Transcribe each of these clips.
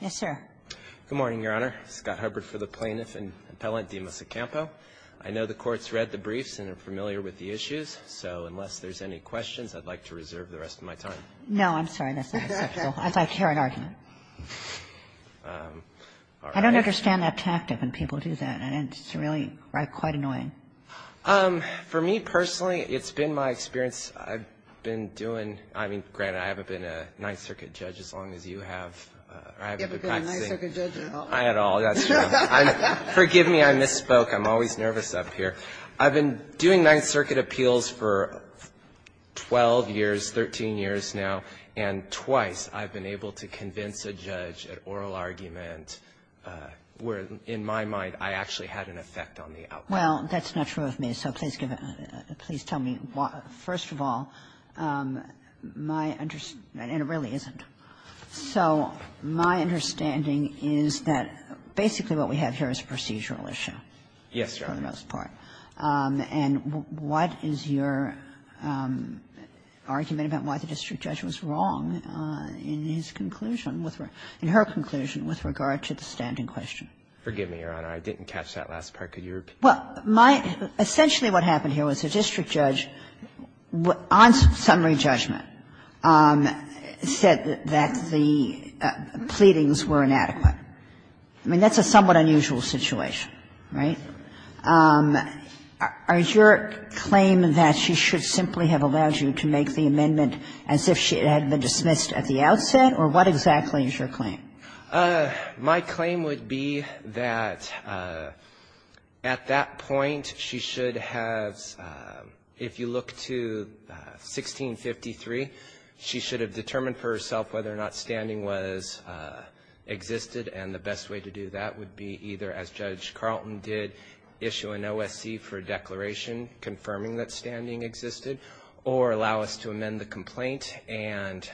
Yes, sir. Good morning, Your Honor. Scott Hubbard for the plaintiff and appellant, Dimas O'Campo. I know the Court's read the briefs and are familiar with the issues, so unless there's any questions, I'd like to reserve the rest of my time. No, I'm sorry. That's not acceptable. I'd like to hear an argument. I don't understand that tactic when people do that. It's really quite annoying. For me personally, it's been my experience. I've been doing — I mean, granted, I haven't been a Ninth Circuit judge as long as you have. You haven't been a Ninth Circuit judge at all. Not at all. That's true. Forgive me. I misspoke. I'm always nervous up here. I've been doing Ninth Circuit appeals for 12 years, 13 years now, and twice I've been able to convince a judge at oral argument where, in my mind, I actually had an effect on the outcome. Well, that's not true of me. So please tell me, first of all, my — and it really isn't. So my understanding is that basically what we have here is a procedural issue. Yes, Your Honor. For the most part. And what is your argument about why the district judge was wrong in his conclusion with — in her conclusion with regard to the standing question? Forgive me, Your Honor. I didn't catch that last part. Could you repeat it? Well, my — essentially what happened here was the district judge, on summary judgment, said that the pleadings were inadequate. I mean, that's a somewhat unusual situation, right? Is your claim that she should simply have allowed you to make the amendment as if it had been dismissed at the outset, or what exactly is your claim? My claim would be that at that point she should have — if you look to 1653, she should have determined for herself whether or not standing was — existed, and the best way to do that would be either, as Judge Carlton did, issue an OSC for a declaration confirming that standing existed, or allow us to amend the complaint and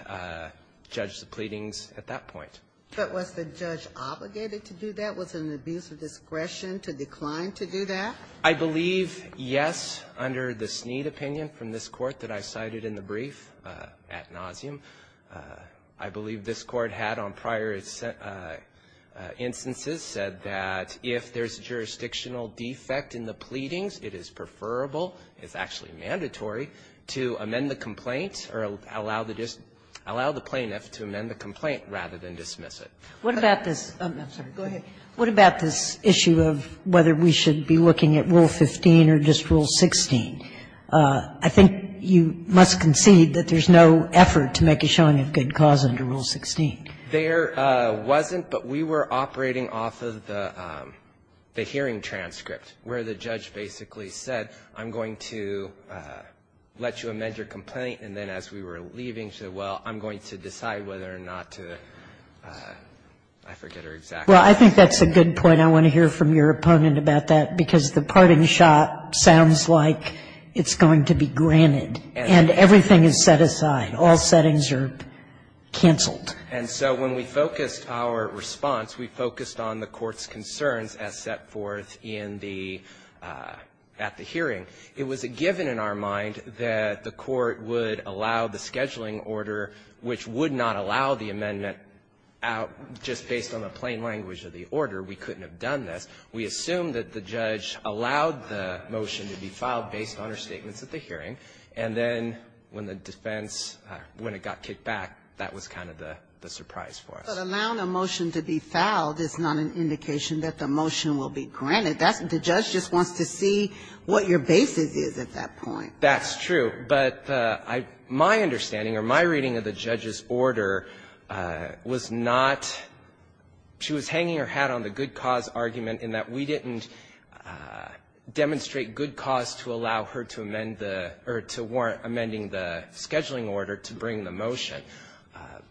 judge the pleadings at that point. But was the judge obligated to do that? Was an abuse of discretion to decline to do that? I believe, yes, under the Snead opinion from this Court that I cited in the brief ad nauseum. I believe this Court had on prior instances said that if there's a jurisdictional defect in the pleadings, it is preferable — it's actually mandatory — to amend the complaint or allow the plaintiff to amend the complaint rather than dismiss it. What about this — I'm sorry, go ahead. What about this issue of whether we should be looking at Rule 15 or just Rule 16? I think you must concede that there's no effort to make a showing of good cause under Rule 16. There wasn't, but we were operating off of the hearing transcript where the judge basically said, I'm going to let you amend your complaint, and then as we were leaving, said, well, I'm going to decide whether or not to, I forget her exact name. Well, I think that's a good point. I want to hear from your opponent about that, because the parting shot sounds like it's going to be granted, and everything is set aside. All settings are canceled. And so when we focused our response, we focused on the Court's concerns as set forth in the — at the hearing, it was a given in our mind that the Court would allow the scheduling order, which would not allow the amendment out just based on the plain language of the order. We couldn't have done this. We assumed that the judge allowed the motion to be filed based on her statements at the hearing, and then when the defense — when it got kicked back, that was kind of the surprise for us. But allowing a motion to be filed is not an indication that the motion will be granted. That's — the judge just wants to see what your basis is at that point. That's true. But my understanding, or my reading of the judge's order, was not — she was hanging her hat on the good cause argument in that we didn't demonstrate good cause to allow her to amend the — or to warrant amending the scheduling order to bring the motion.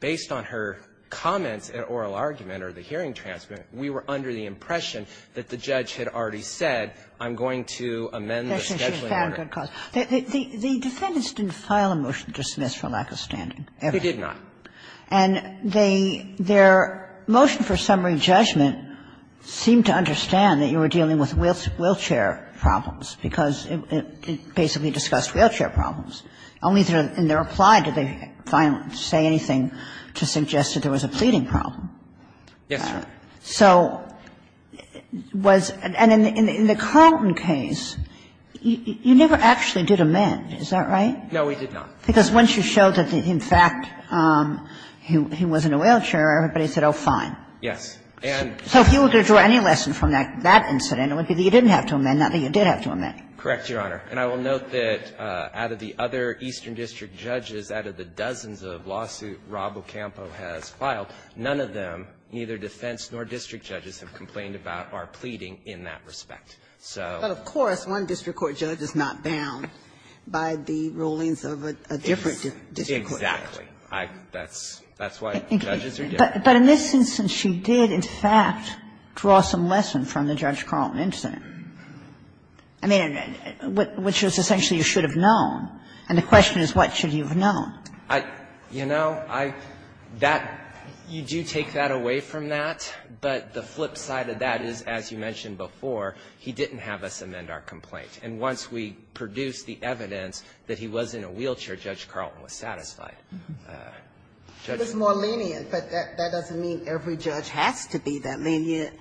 Based on her comments and oral argument or the hearing transcript, we were under the impression that the judge had already said, I'm going to amend the scheduling order. Kagan. The defendants didn't file a motion to dismiss for lack of standing, ever. They did not. And they — their motion for summary judgment seemed to understand that you were dealing with wheelchair problems, because it basically discussed wheelchair problems, only in their reply did they say anything to suggest that there was a pleading problem. Yes, Your Honor. So was — and in the Carlton case, you never actually did amend, is that right? No, we did not. Because once you showed that, in fact, he wasn't a wheelchairer, everybody said, oh, fine. Yes. And so if you were to draw any lesson from that incident, it would be that you didn't have to amend, not that you did have to amend. Correct, Your Honor. And I will note that out of the other eastern district judges, out of the dozens of lawsuits Robocampo has filed, none of them, neither defense nor district judges, have complained about or pleading in that respect. So — But, of course, one district court judge is not bound by the rulings of a different district court judge. Exactly. I — that's — that's why judges are different. But in this instance, she did, in fact, draw some lesson from the Judge Carlton incident. I mean, which was essentially you should have known. And the question is, what should you have known? I — you know, I — that — you do take that away from that, but the flip side of that is, as you mentioned before, he didn't have us amend our complaint. And once we produced the evidence that he wasn't a wheelchair, Judge Carlton was satisfied. It was more lenient, but that doesn't mean every judge has to be that lenient.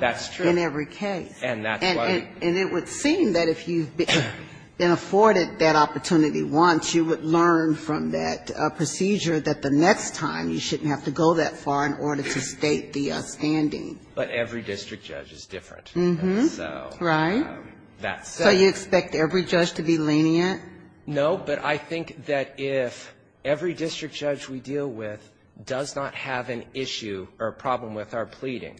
That's true. In every case. And that's why — And it would seem that if you've been afforded that opportunity once, you would learn from that procedure that the next time you shouldn't have to go that far in order to state the standing. But every district judge is different. Mm-hmm. So — Right. That's — So you expect every judge to be lenient? No, but I think that if every district judge we deal with does not have an issue or a problem with our pleading,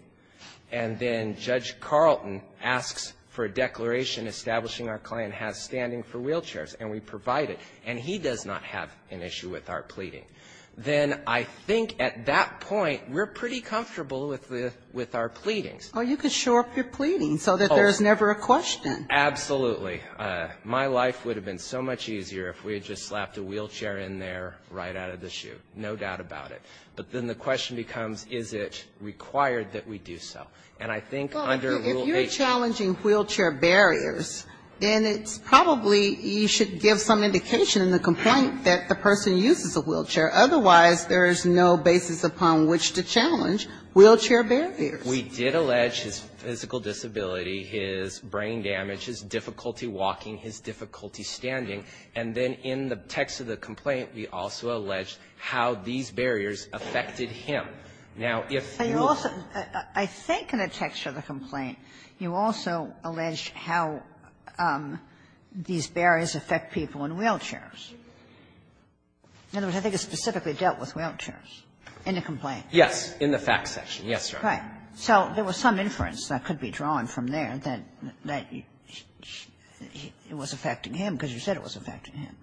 and then Judge Carlton asks for a declaration establishing our client has standing for wheelchairs, and we provide it, and he does not have an issue with our pleading, then I think at that point, we're pretty comfortable with the — with our pleadings. Oh, you could shore up your pleading so that there's never a question. Absolutely. My life would have been so much easier if we had just slapped a wheelchair in there right out of the chute, no doubt about it. But then the question becomes, is it required that we do so? And I think under — Well, if you're challenging wheelchair barriers, then it's probably you should give some indication in the complaint that the person uses a wheelchair. Otherwise, there's no basis upon which to challenge wheelchair barriers. We did allege his physical disability, his brain damage, his difficulty walking, his difficulty standing, and then in the text of the complaint, we also alleged how these barriers affected him. Now, if you — But you also — I think in the text of the complaint, you also alleged how these barriers affect people in wheelchairs. In other words, I think it specifically dealt with wheelchairs in the complaint. Yes. In the facts section. Yes, Your Honor. Right. So there was some inference that could be drawn from there that — that it was affecting him, because you said it was affecting him.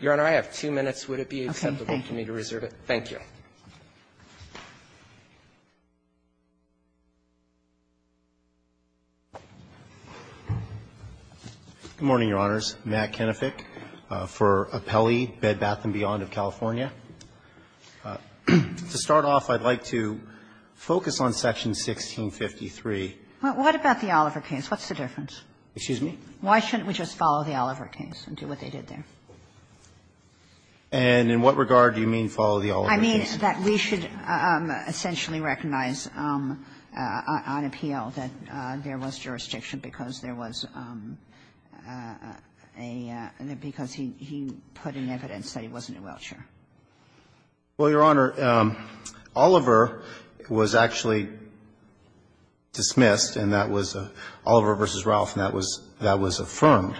Your Honor, I have two minutes. Would it be acceptable for me to reserve my time? Thank you. Good morning, Your Honors. Matt Kenefick for Apelli Bed, Bath & Beyond of California. To start off, I'd like to focus on Section 1653. What about the Oliver case? What's the difference? Excuse me? Why shouldn't we just follow the Oliver case and do what they did there? And in what regard do you mean follow the Oliver case? I mean that we should essentially recognize on appeal that there was jurisdiction because there was a — because he put in evidence that he wasn't in a wheelchair. Well, Your Honor, Oliver was actually dismissed, and that was — Oliver v. Ralph, and that was — that was affirmed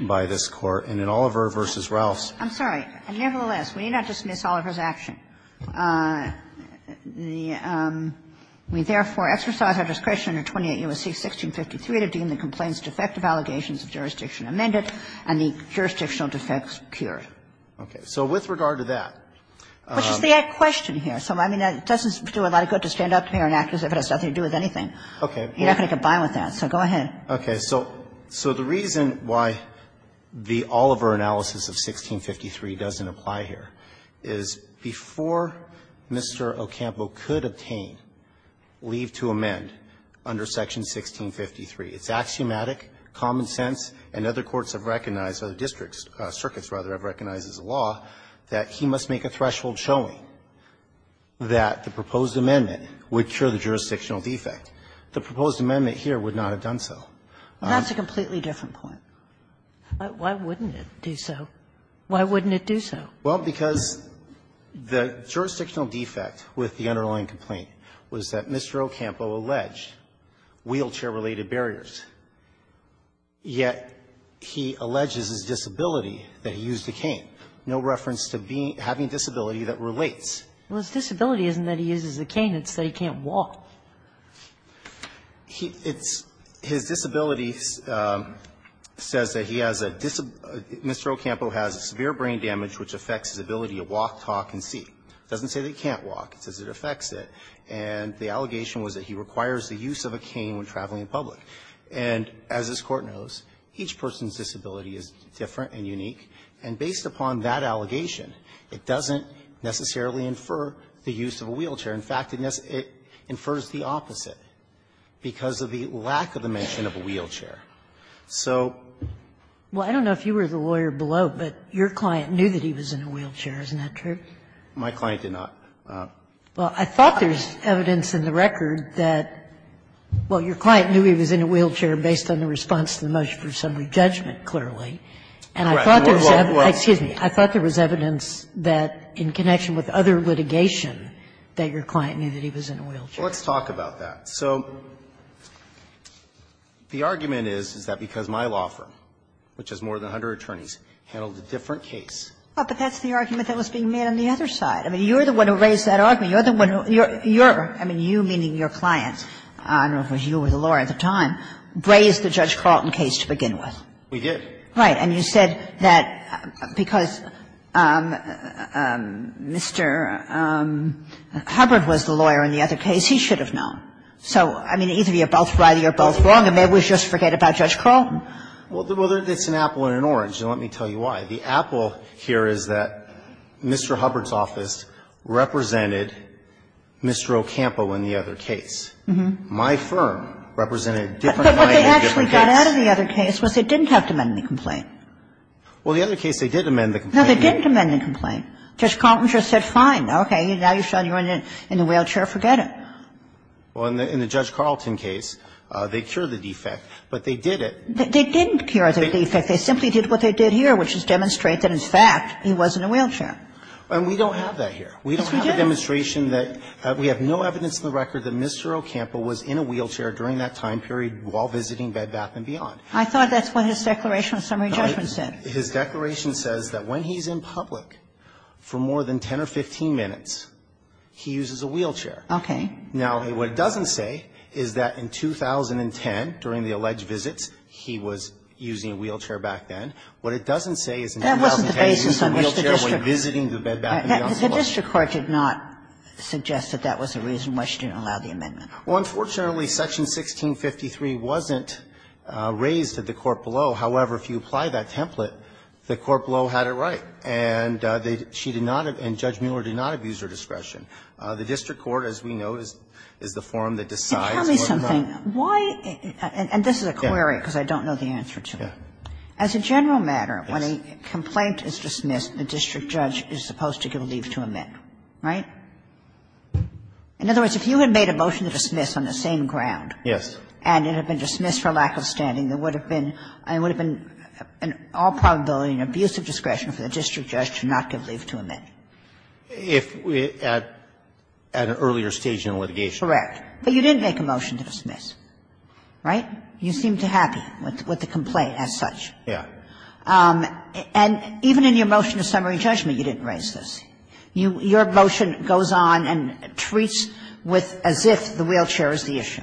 by this Court. And in Oliver v. Ralph's — I'm sorry. Nevertheless, we need not dismiss Oliver's action. The — we therefore exercise our discretion under 28 U.S.C. 1653 to deem the complaint's defective allegations of jurisdiction amended and the jurisdictional defects pure. Okay. So with regard to that — Which is the question here. So, I mean, that doesn't do a lot of good to stand up here and act as if it has nothing to do with anything. Okay. You're not going to combine with that. So go ahead. Okay. So the reason why the Oliver analysis of 1653 doesn't apply here is before Mr. Ocampo could obtain leave to amend under Section 1653, it's axiomatic, common sense, and other courts have recognized, or the district circuits, rather, have recognized as a law that he must make a threshold showing that the proposed amendment would cure the jurisdictional defect. The proposed amendment here would not have done so. That's a completely different point. Why wouldn't it do so? Why wouldn't it do so? Well, because the jurisdictional defect with the underlying complaint was that Mr. Ocampo alleged wheelchair-related barriers, yet he alleges his disability, that he used a cane, no reference to having a disability that relates. Well, his disability isn't that he uses a cane. It's that he can't walk. He — it's — his disability says that he has a — Mr. Ocampo has severe brain damage which affects his ability to walk, talk, and see. It doesn't say that he can't walk. It says it affects it. And the allegation was that he requires the use of a cane when traveling in public. And as this Court knows, each person's disability is different and unique. And based upon that allegation, it doesn't necessarily infer the use of a wheelchair. In fact, it infers the opposite because of the lack of the mention of a wheelchair. So — Well, I don't know if you were the lawyer below, but your client knew that he was in a wheelchair. Isn't that true? My client did not. Well, I thought there's evidence in the record that — well, your client knew he was in a wheelchair based on the response to the motion for assembly judgment, clearly. Correct. I thought there was — excuse me. I thought there was evidence that, in connection with other litigation, that your client knew that he was in a wheelchair. Well, let's talk about that. So the argument is, is that because my law firm, which has more than 100 attorneys, handled a different case. Well, but that's the argument that was being made on the other side. I mean, you're the one who raised that argument. You're the one who — you're — I mean, you, meaning your clients, I don't know if it was you or the lawyer at the time, raised the Judge Carlton case to begin with. We did. Right. And you said that because Mr. Hubbard was the lawyer in the other case, he should have known. So, I mean, either you're both right or you're both wrong, and maybe we should just forget about Judge Carlton. Well, there's an apple and an orange, and let me tell you why. The apple here is that Mr. Hubbard's office represented Mr. Ocampo in the other case. My firm represented a different client in a different case. But what they actually got out of the other case was they didn't have to amend the complaint. Well, the other case, they did amend the complaint. No, they didn't amend the complaint. Judge Carlton just said, fine, okay, now you've shown you're in a wheelchair, forget it. Well, in the Judge Carlton case, they cured the defect, but they did it. They didn't cure the defect. They simply did what they did here, which is demonstrate that, in fact, he was in a wheelchair. And we don't have that here. Yes, we do. We don't have a demonstration that — we have no evidence in the record that Mr. Ocampo was in a wheelchair during that time period while visiting Bed Bath & Beyond. I thought that's what his declaration of summary judgment said. His declaration says that when he's in public for more than 10 or 15 minutes, he uses a wheelchair. Okay. Now, what it doesn't say is that in 2010, during the alleged visits, he was using a wheelchair back then. What it doesn't say is in 2010 he used a wheelchair when visiting the Bed Bath & Beyond Club. The district court did not suggest that that was the reason why she didn't allow the amendment. Well, unfortunately, Section 1653 wasn't raised at the court below. However, if you apply that template, the court below had it right. And they — she did not, and Judge Mueller did not abuse her discretion. The district court, as we know, is the forum that decides whether or not — Can you tell me something? Why — and this is a query, because I don't know the answer to it. As a general matter, when a complaint is dismissed, the district judge is supposed to give leave to amend, right? In other words, if you had made a motion to dismiss on the same ground — Yes. — and it had been dismissed for lack of standing, there would have been — there would have been an all probability and abusive discretion for the district judge to not give leave to amend. If at an earlier stage in litigation. Correct. But you didn't make a motion to dismiss, right? You seemed happy with the complaint as such. Yes. And even in your motion to summary judgment, you didn't raise this. Your motion goes on and treats with as if the wheelchair is the issue.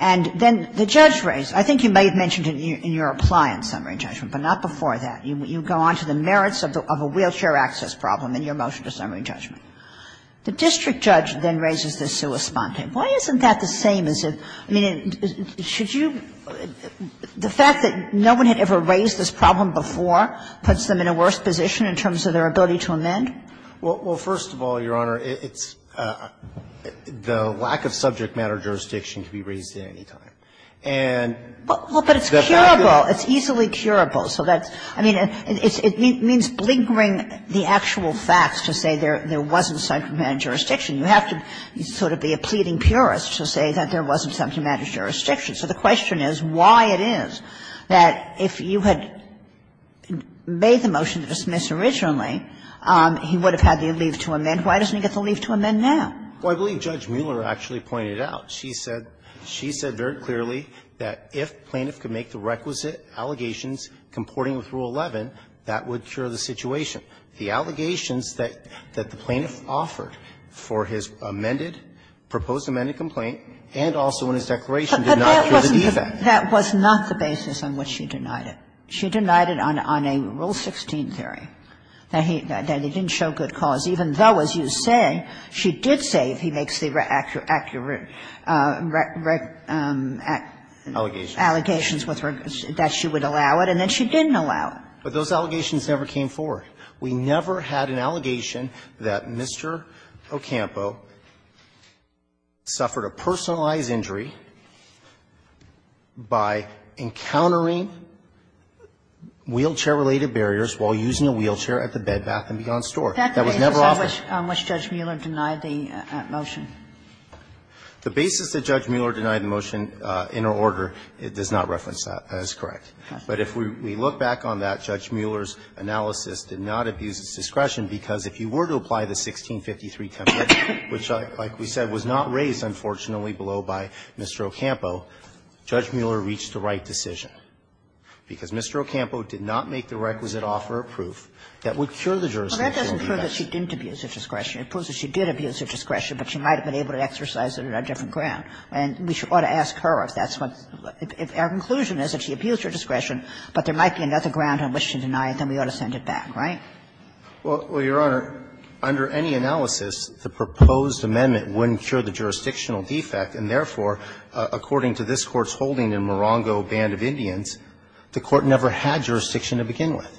And then the judge raised — I think you may have mentioned it in your reply in summary judgment, but not before that. You go on to the merits of a wheelchair access problem in your motion to summary judgment. The district judge then raises this sui sponte. Why isn't that the same as if — I mean, should you — the fact that no one had ever raised this problem before puts them in a worse position in terms of their ability to amend? Well, first of all, Your Honor, it's — the lack of subject matter jurisdiction can be raised at any time. And the fact that — Well, but it's curable. It's easily curable. So that's — I mean, it means blinkering the actual facts to say there wasn't subject matter jurisdiction. You have to sort of be a pleading purist to say that there wasn't subject matter jurisdiction. So the question is why it is that if you had made the motion to dismiss originally, he would have had the leave to amend. Why doesn't he get the leave to amend now? Well, I believe Judge Mueller actually pointed it out. She said — she said very clearly that if plaintiff could make the requisite allegations comporting with Rule 11, that would cure the situation. The allegations that the plaintiff offered for his amended, proposed amended complaint and also in his declaration did not cure the defect. But that wasn't the — that was not the basis on which she denied it. She denied it on a — on a Rule 16 theory, that he — that he didn't show good cause, even though, as you say, she did say, if he makes the accurate — accurate allegations with her, that she would allow it, and then she didn't allow it. But those allegations never came forward. We never had an allegation that Mr. Ocampo suffered a personalized injury by encountering wheelchair-related barriers while using a wheelchair at the Bed Bath & Beyond store. That was never offered. That's the basis on which Judge Mueller denied the motion. The basis that Judge Mueller denied the motion in her order does not reference that. That is correct. But if we look back on that, Judge Mueller's analysis did not abuse its discretion, because if you were to apply the 1653 template, which, like we said, was not raised, unfortunately, below by Mr. Ocampo, Judge Mueller reached the right decision. Because Mr. Ocampo did not make the requisite offer of proof that would cure the jurisdictional Kagan Well, that doesn't prove that she didn't abuse her discretion. It proves that she did abuse her discretion, but she might have been able to exercise it on a different ground. And we ought to ask her if that's what — if our conclusion is that she abused her discretion, but there might be another ground on which to deny it, then we ought to send it back, right? Well, Your Honor, under any analysis, the proposed amendment wouldn't cure the jurisdictional defect, and therefore, according to this Court's holding in Morongo Band of Indians, the Court never had jurisdiction to begin with.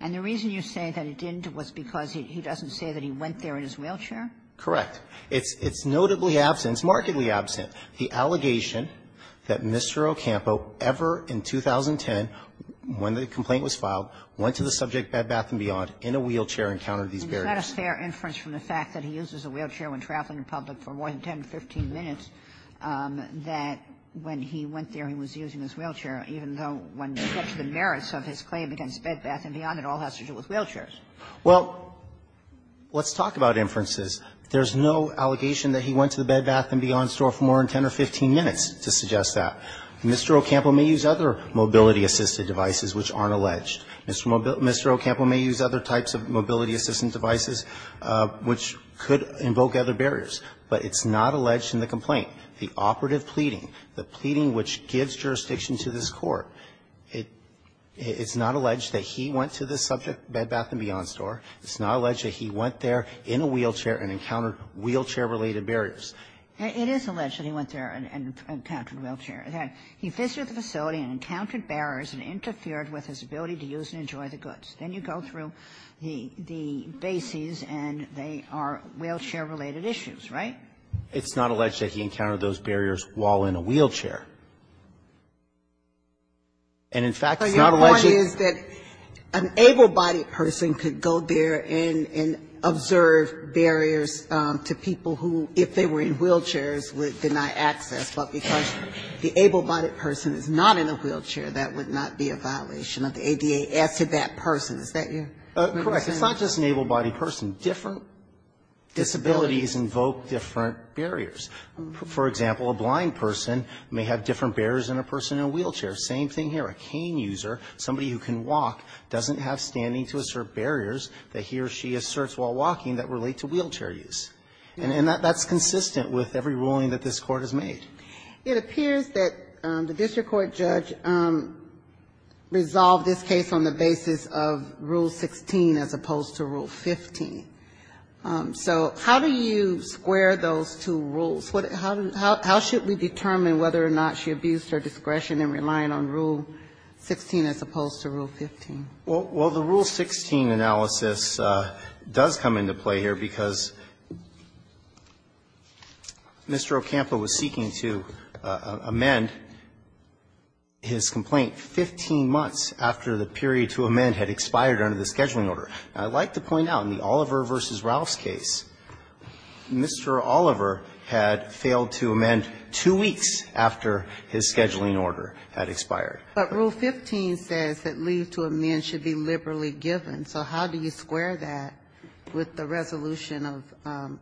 And the reason you say that it didn't was because he doesn't say that he went there in his wheelchair? Correct. It's notably absent, it's markedly absent, the allegation that Mr. Ocampo ever in 2010, when the complaint was filed, went to the subject Bed, Bath and Beyond in a wheelchair and encountered these barriers. But isn't that a fair inference from the fact that he uses a wheelchair when traveling in public for more than 10 to 15 minutes, that when he went there, he was using his wheelchair, even though when you get to the merits of his claim against Bed, Bath and Beyond, it all has to do with wheelchairs? Well, let's talk about inferences. There's no allegation that he went to the Bed, Bath and Beyond store for more than 10 or 15 minutes to suggest that. Mr. Ocampo may use other mobility-assisted devices which aren't alleged. Mr. Ocampo may use other types of mobility-assisted devices which could invoke other barriers. But it's not alleged in the complaint, the operative pleading, the pleading which gives jurisdiction to this Court, it's not alleged that he went to the subject Bed, Bath and Beyond store. It's not alleged that he went there in a wheelchair and encountered wheelchair-related It is alleged that he went there and encountered a wheelchair. He visited the facility and encountered barriers and interfered with his ability to use and enjoy the goods. Then you go through the bases and they are wheelchair-related issues, right? It's not alleged that he encountered those barriers while in a wheelchair. And, in fact, it's not alleged that an able-bodied person could go there and observe barriers to people who, if they were in wheelchairs, would deny access, but because the able-bodied person is not in a wheelchair, that would not be a violation of the ADA as to that person. Is that your understanding? Correct. It's not just an able-bodied person. Different disabilities invoke different barriers. For example, a blind person may have different barriers than a person in a wheelchair. Same thing here. A cane user, somebody who can walk, doesn't have standing to assert barriers that he or she asserts while walking that relate to wheelchair use. And that's consistent with every ruling that this Court has made. It appears that the district court judge resolved this case on the basis of Rule 16 as opposed to Rule 15. So how do you square those two rules? How should we determine whether or not she abused her discretion in relying on Rule 16 as opposed to Rule 15? Well, the Rule 16 analysis does come into play here because Mr. Ocampo was seeking to amend his complaint 15 months after the period to amend had expired under the scheduling order. I'd like to point out in the Oliver v. Ralph's case, Mr. Oliver had failed to amend two weeks after his scheduling order had expired. But Rule 15 says that leave to amend should be liberally given. So how do you square that with the resolution of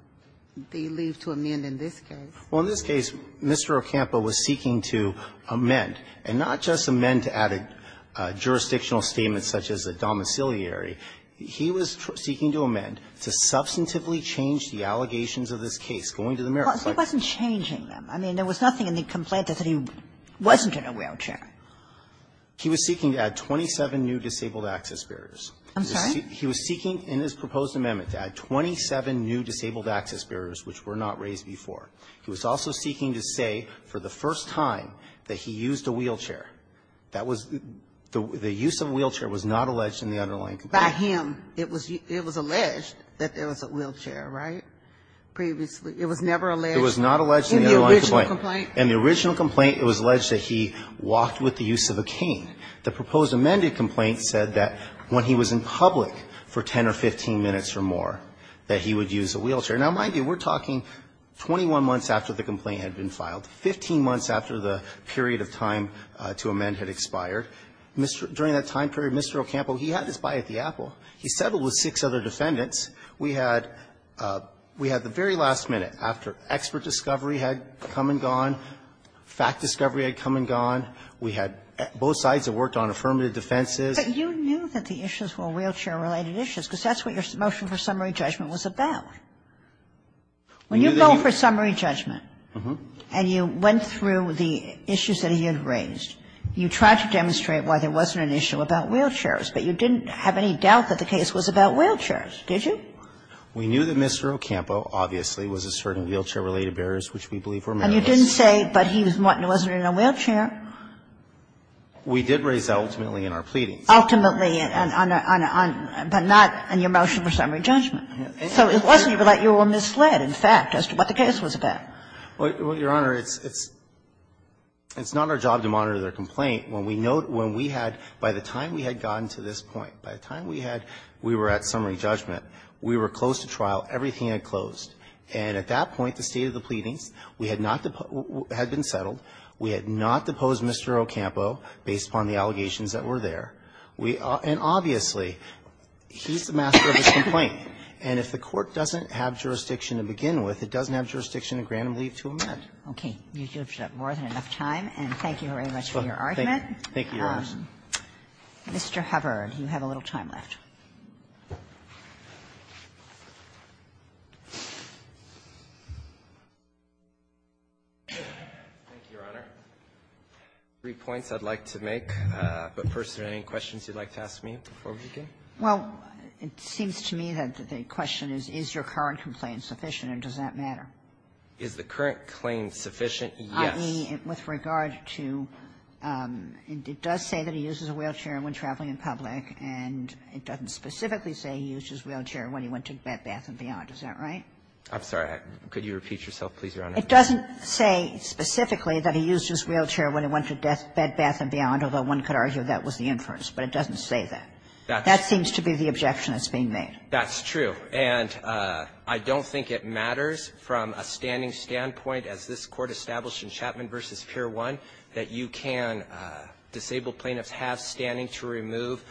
the leave to amend in this case? Well, in this case, Mr. Ocampo was seeking to amend, and not just amend to add a jurisdictional statement such as a domiciliary. He was seeking to amend, to substantively change the allegations of this case going to the mayor. Kagan. He wasn't changing them. I mean, there was nothing in the complaint that said he wasn't in a wheelchair. He was seeking to add 27 new disabled access barriers. I'm sorry? He was seeking in his proposed amendment to add 27 new disabled access barriers which were not raised before. He was also seeking to say for the first time that he used a wheelchair. That was the use of a wheelchair was not alleged in the underlying complaint. By him, it was alleged that there was a wheelchair, right, previously. It was never alleged in the original complaint. It was not alleged in the underlying complaint. In the original complaint, it was alleged that he walked with the use of a cane. The proposed amended complaint said that when he was in public for 10 or 15 minutes or more that he would use a wheelchair. Now, mind you, we're talking 21 months after the complaint had been filed, 15 months after the period of time to amend had expired. During that time period, Mr. Ocampo, he had his bite at the apple. He settled with six other defendants. We had the very last minute after expert discovery had come and gone, fact discovery had come and gone, we had both sides have worked on affirmative defenses. But you knew that the issues were wheelchair-related issues, because that's what your motion for summary judgment was about. When you go for summary judgment and you went through the issues that he had raised, you tried to demonstrate why there wasn't an issue about wheelchairs, but you didn't have any doubt that the case was about wheelchairs, did you? We knew that Mr. Ocampo obviously was asserting wheelchair-related barriers, which we believe were merits. And you didn't say, but he wasn't in a wheelchair. We did raise that ultimately in our pleadings. Ultimately, but not in your motion for summary judgment. So it wasn't even like you were misled, in fact, as to what the case was about. Well, Your Honor, it's not our job to monitor their complaint. When we had, by the time we had gotten to this point, by the time we had, we were at summary judgment, we were close to trial, everything had closed. And at that point, the state of the pleadings, we had not, had been settled. We had not deposed Mr. Ocampo based upon the allegations that were there. And obviously, he's the master of his complaint. And if the Court doesn't have jurisdiction to begin with, it doesn't have jurisdiction to grant him leave to amend. Okay. You have more than enough time, and thank you very much for your argument. Thank you, Your Honor. Mr. Hubbard, you have a little time left. Thank you, Your Honor. Three points I'd like to make. But first, are there any questions you'd like to ask me before we begin? Well, it seems to me that the question is, is your current complaint sufficient and does that matter? Is the current claim sufficient? Yes. I.e., with regard to, it does say that he uses a wheelchair when traveling in public, and it doesn't specifically say he used his wheelchair when he went to Bed, Bath, and Beyond. Is that right? I'm sorry. Could you repeat yourself, please, Your Honor? It doesn't say specifically that he used his wheelchair when he went to Bed, Bath, and Beyond, although one could argue that was the inference. But it doesn't say that. That seems to be the objection that's being made. That's true. And I don't think it matters from a standing standpoint, as this Court established in Chapman v. Pier 1, that you can – disabled plaintiffs have standing to remove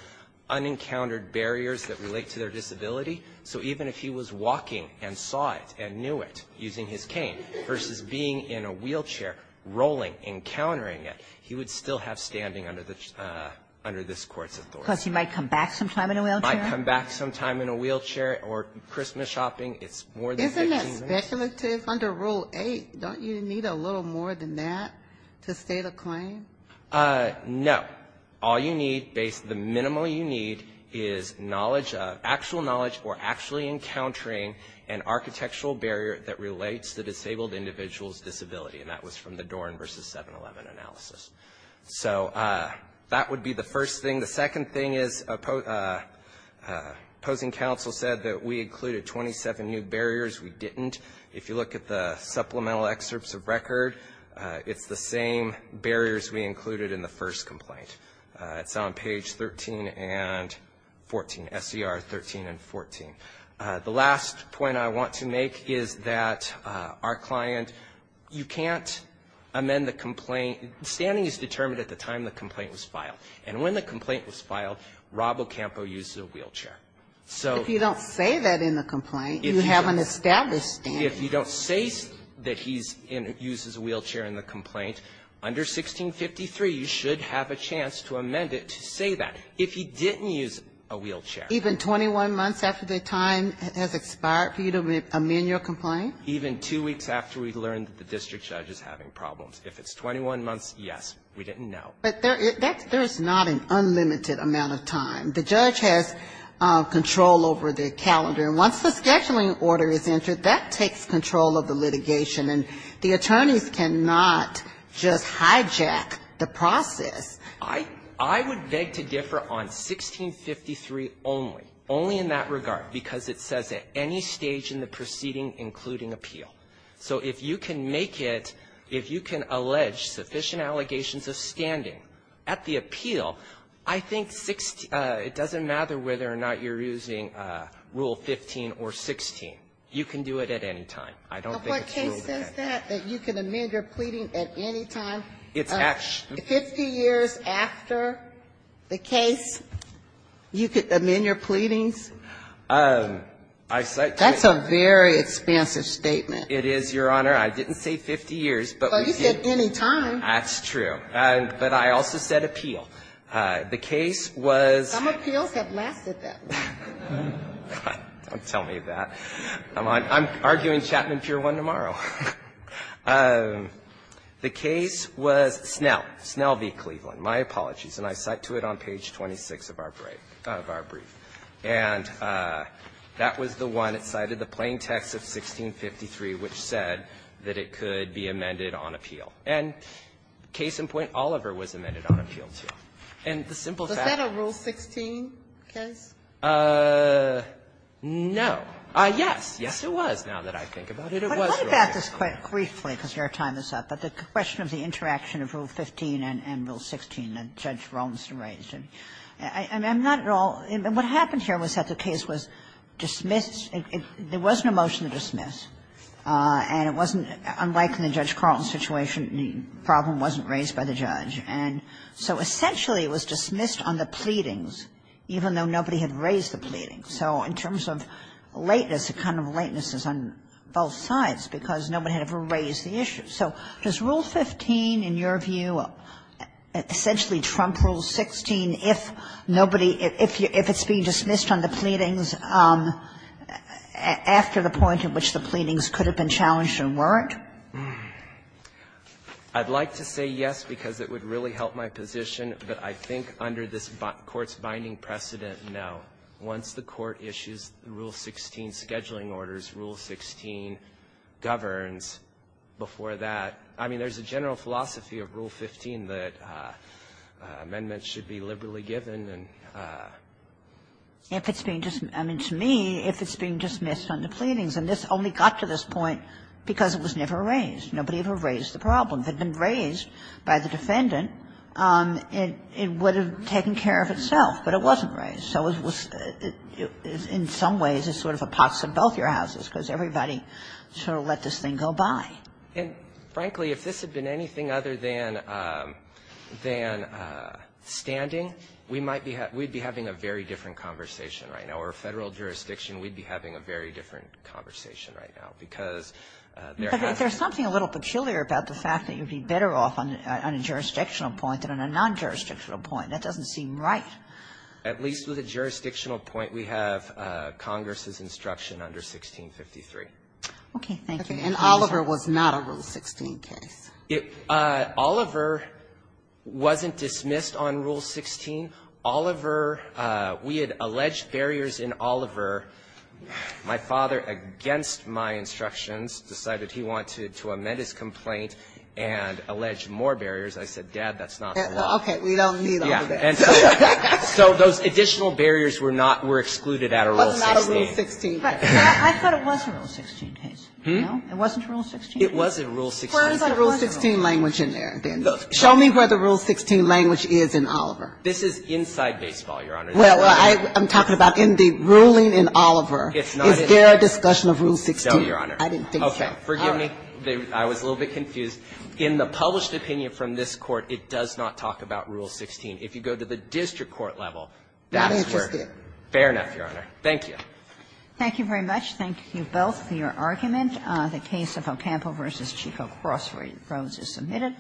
unencountered barriers that relate to their disability. So even if he was walking and saw it and knew it using his cane versus being in a wheelchair, rolling, encountering it, he would still have standing under the – under this Court's authority. Because he might come back sometime in a wheelchair? Might come back sometime in a wheelchair or Christmas shopping. It's more than 15 minutes. Isn't that speculative? Under Rule 8, don't you need a little more than that to state a claim? No. All you need, the minimum you need, is knowledge of – actual knowledge or actually encountering an architectural barrier that relates to disabled individuals' disability. And that was from the Dorn v. 7-11 analysis. So that would be the first thing. The second thing is opposing counsel said that we included 27 new barriers. We didn't. If you look at the supplemental excerpts of record, it's the same barriers we included in the first complaint. It's on page 13 and 14, SCR 13 and 14. The last point I want to make is that our client, you can't amend the complaint – standing is determined at the time the complaint was filed. And when the complaint was filed, Rob Ocampo uses a wheelchair. So if you don't say that in the complaint, you have an established standing. If you don't say that he's in – uses a wheelchair in the complaint, under 1653, you should have a chance to amend it to say that. If he didn't use a wheelchair. Even 21 months after the time has expired for you to amend your complaint? Even two weeks after we learned that the district judge is having problems. If it's 21 months, yes, we didn't know. But there is not an unlimited amount of time. The judge has control over the calendar. And once the scheduling order is entered, that takes control of the litigation. And the attorneys cannot just hijack the process. I would beg to differ on 1653 only. Only in that regard. Because it says at any stage in the proceeding, including appeal. So if you can make it – if you can allege sufficient allegations of standing at the age of 15 or 16, you can do it at any time. I don't think it's ruled out. But what case says that? That you can amend your pleading at any time? It's – Fifty years after the case, you could amend your pleadings? I – That's a very expansive statement. It is, Your Honor. I didn't say 50 years. But we did – But you said any time. That's true. But I also said appeal. The case was – Some appeals have lasted that long. Don't tell me that. I'm arguing Chapman Pure One tomorrow. The case was Snell. Snell v. Cleveland. My apologies. And I cite to it on page 26 of our brief. And that was the one that cited the plain text of 1653, which said that it could be amended on appeal. And case in point, Oliver was amended on appeal, too. And the simple fact is – Is that a Rule 16 case? No. Yes. Yes, it was. Now that I think about it, it was Rule 16. But I'd like to ask this quite briefly because your time is up. But the question of the interaction of Rule 15 and Rule 16 that Judge Rolandson raised. And I'm not at all – and what happened here was that the case was dismissed – there was no motion to dismiss. And it wasn't – unlike in the Judge Carlton situation, the problem wasn't raised by the judge. And so, essentially, it was dismissed on the pleadings, even though nobody had been challenged and weren't challenged, and nobody had raised the pleadings. So in terms of lateness, the kind of lateness is on both sides because nobody had ever raised the issue. So does Rule 15, in your view, essentially trump Rule 16 if nobody – if it's being dismissed on the pleadings after the point at which the pleadings could have been challenged and weren't? I'd like to say yes, because it would really help my position, but I think under this Court's binding precedent, no. Once the Court issues Rule 16 scheduling orders, Rule 16 governs. Before that – I mean, there's a general philosophy of Rule 15 that amendments should be liberally given and – If it's being – I mean, to me, if it's being dismissed on the pleadings – and this only got to this point because it was never raised. Nobody ever raised the problem. If it had been raised by the defendant, it would have taken care of itself, but it wasn't raised. So it was – in some ways, it's sort of a pots and both your houses, because everybody sort of let this thing go by. And frankly, if this had been anything other than standing, we might be – we'd be having a very different conversation right now, or Federal jurisdiction, we'd be having a very different conversation right now, because there has to be – There's something a little peculiar about the fact that you'd be better off on a jurisdictional point than on a non-jurisdictional point. That doesn't seem right. At least with a jurisdictional point, we have Congress's instruction under 1653. Okay. Thank you. And Oliver was not a Rule 16 case. It – Oliver wasn't dismissed on Rule 16. Oliver – we had alleged barriers in Oliver. My father, against my instructions, decided he wanted to amend his complaint and allege more barriers. I said, Dad, that's not the law. Okay. We don't need all of that. So those additional barriers were not – were excluded out of Rule 16. Wasn't out of Rule 16. I thought it was a Rule 16 case. No? It wasn't a Rule 16 case? It was a Rule 16 case. Where is the Rule 16 language in there, then? Show me where the Rule 16 language is in Oliver. This is inside baseball, Your Honor. Well, I'm talking about in the ruling in Oliver. It's not in there. Is there a discussion of Rule 16? No, Your Honor. I didn't think so. Okay. Forgive me. I was a little bit confused. In the published opinion from this Court, it does not talk about Rule 16. If you go to the district court level, that's where – That's interesting. Fair enough, Your Honor. Thank you. Thank you very much. Thank you both for your argument. The case of Ocampo v. Chico Crossroads is submitted.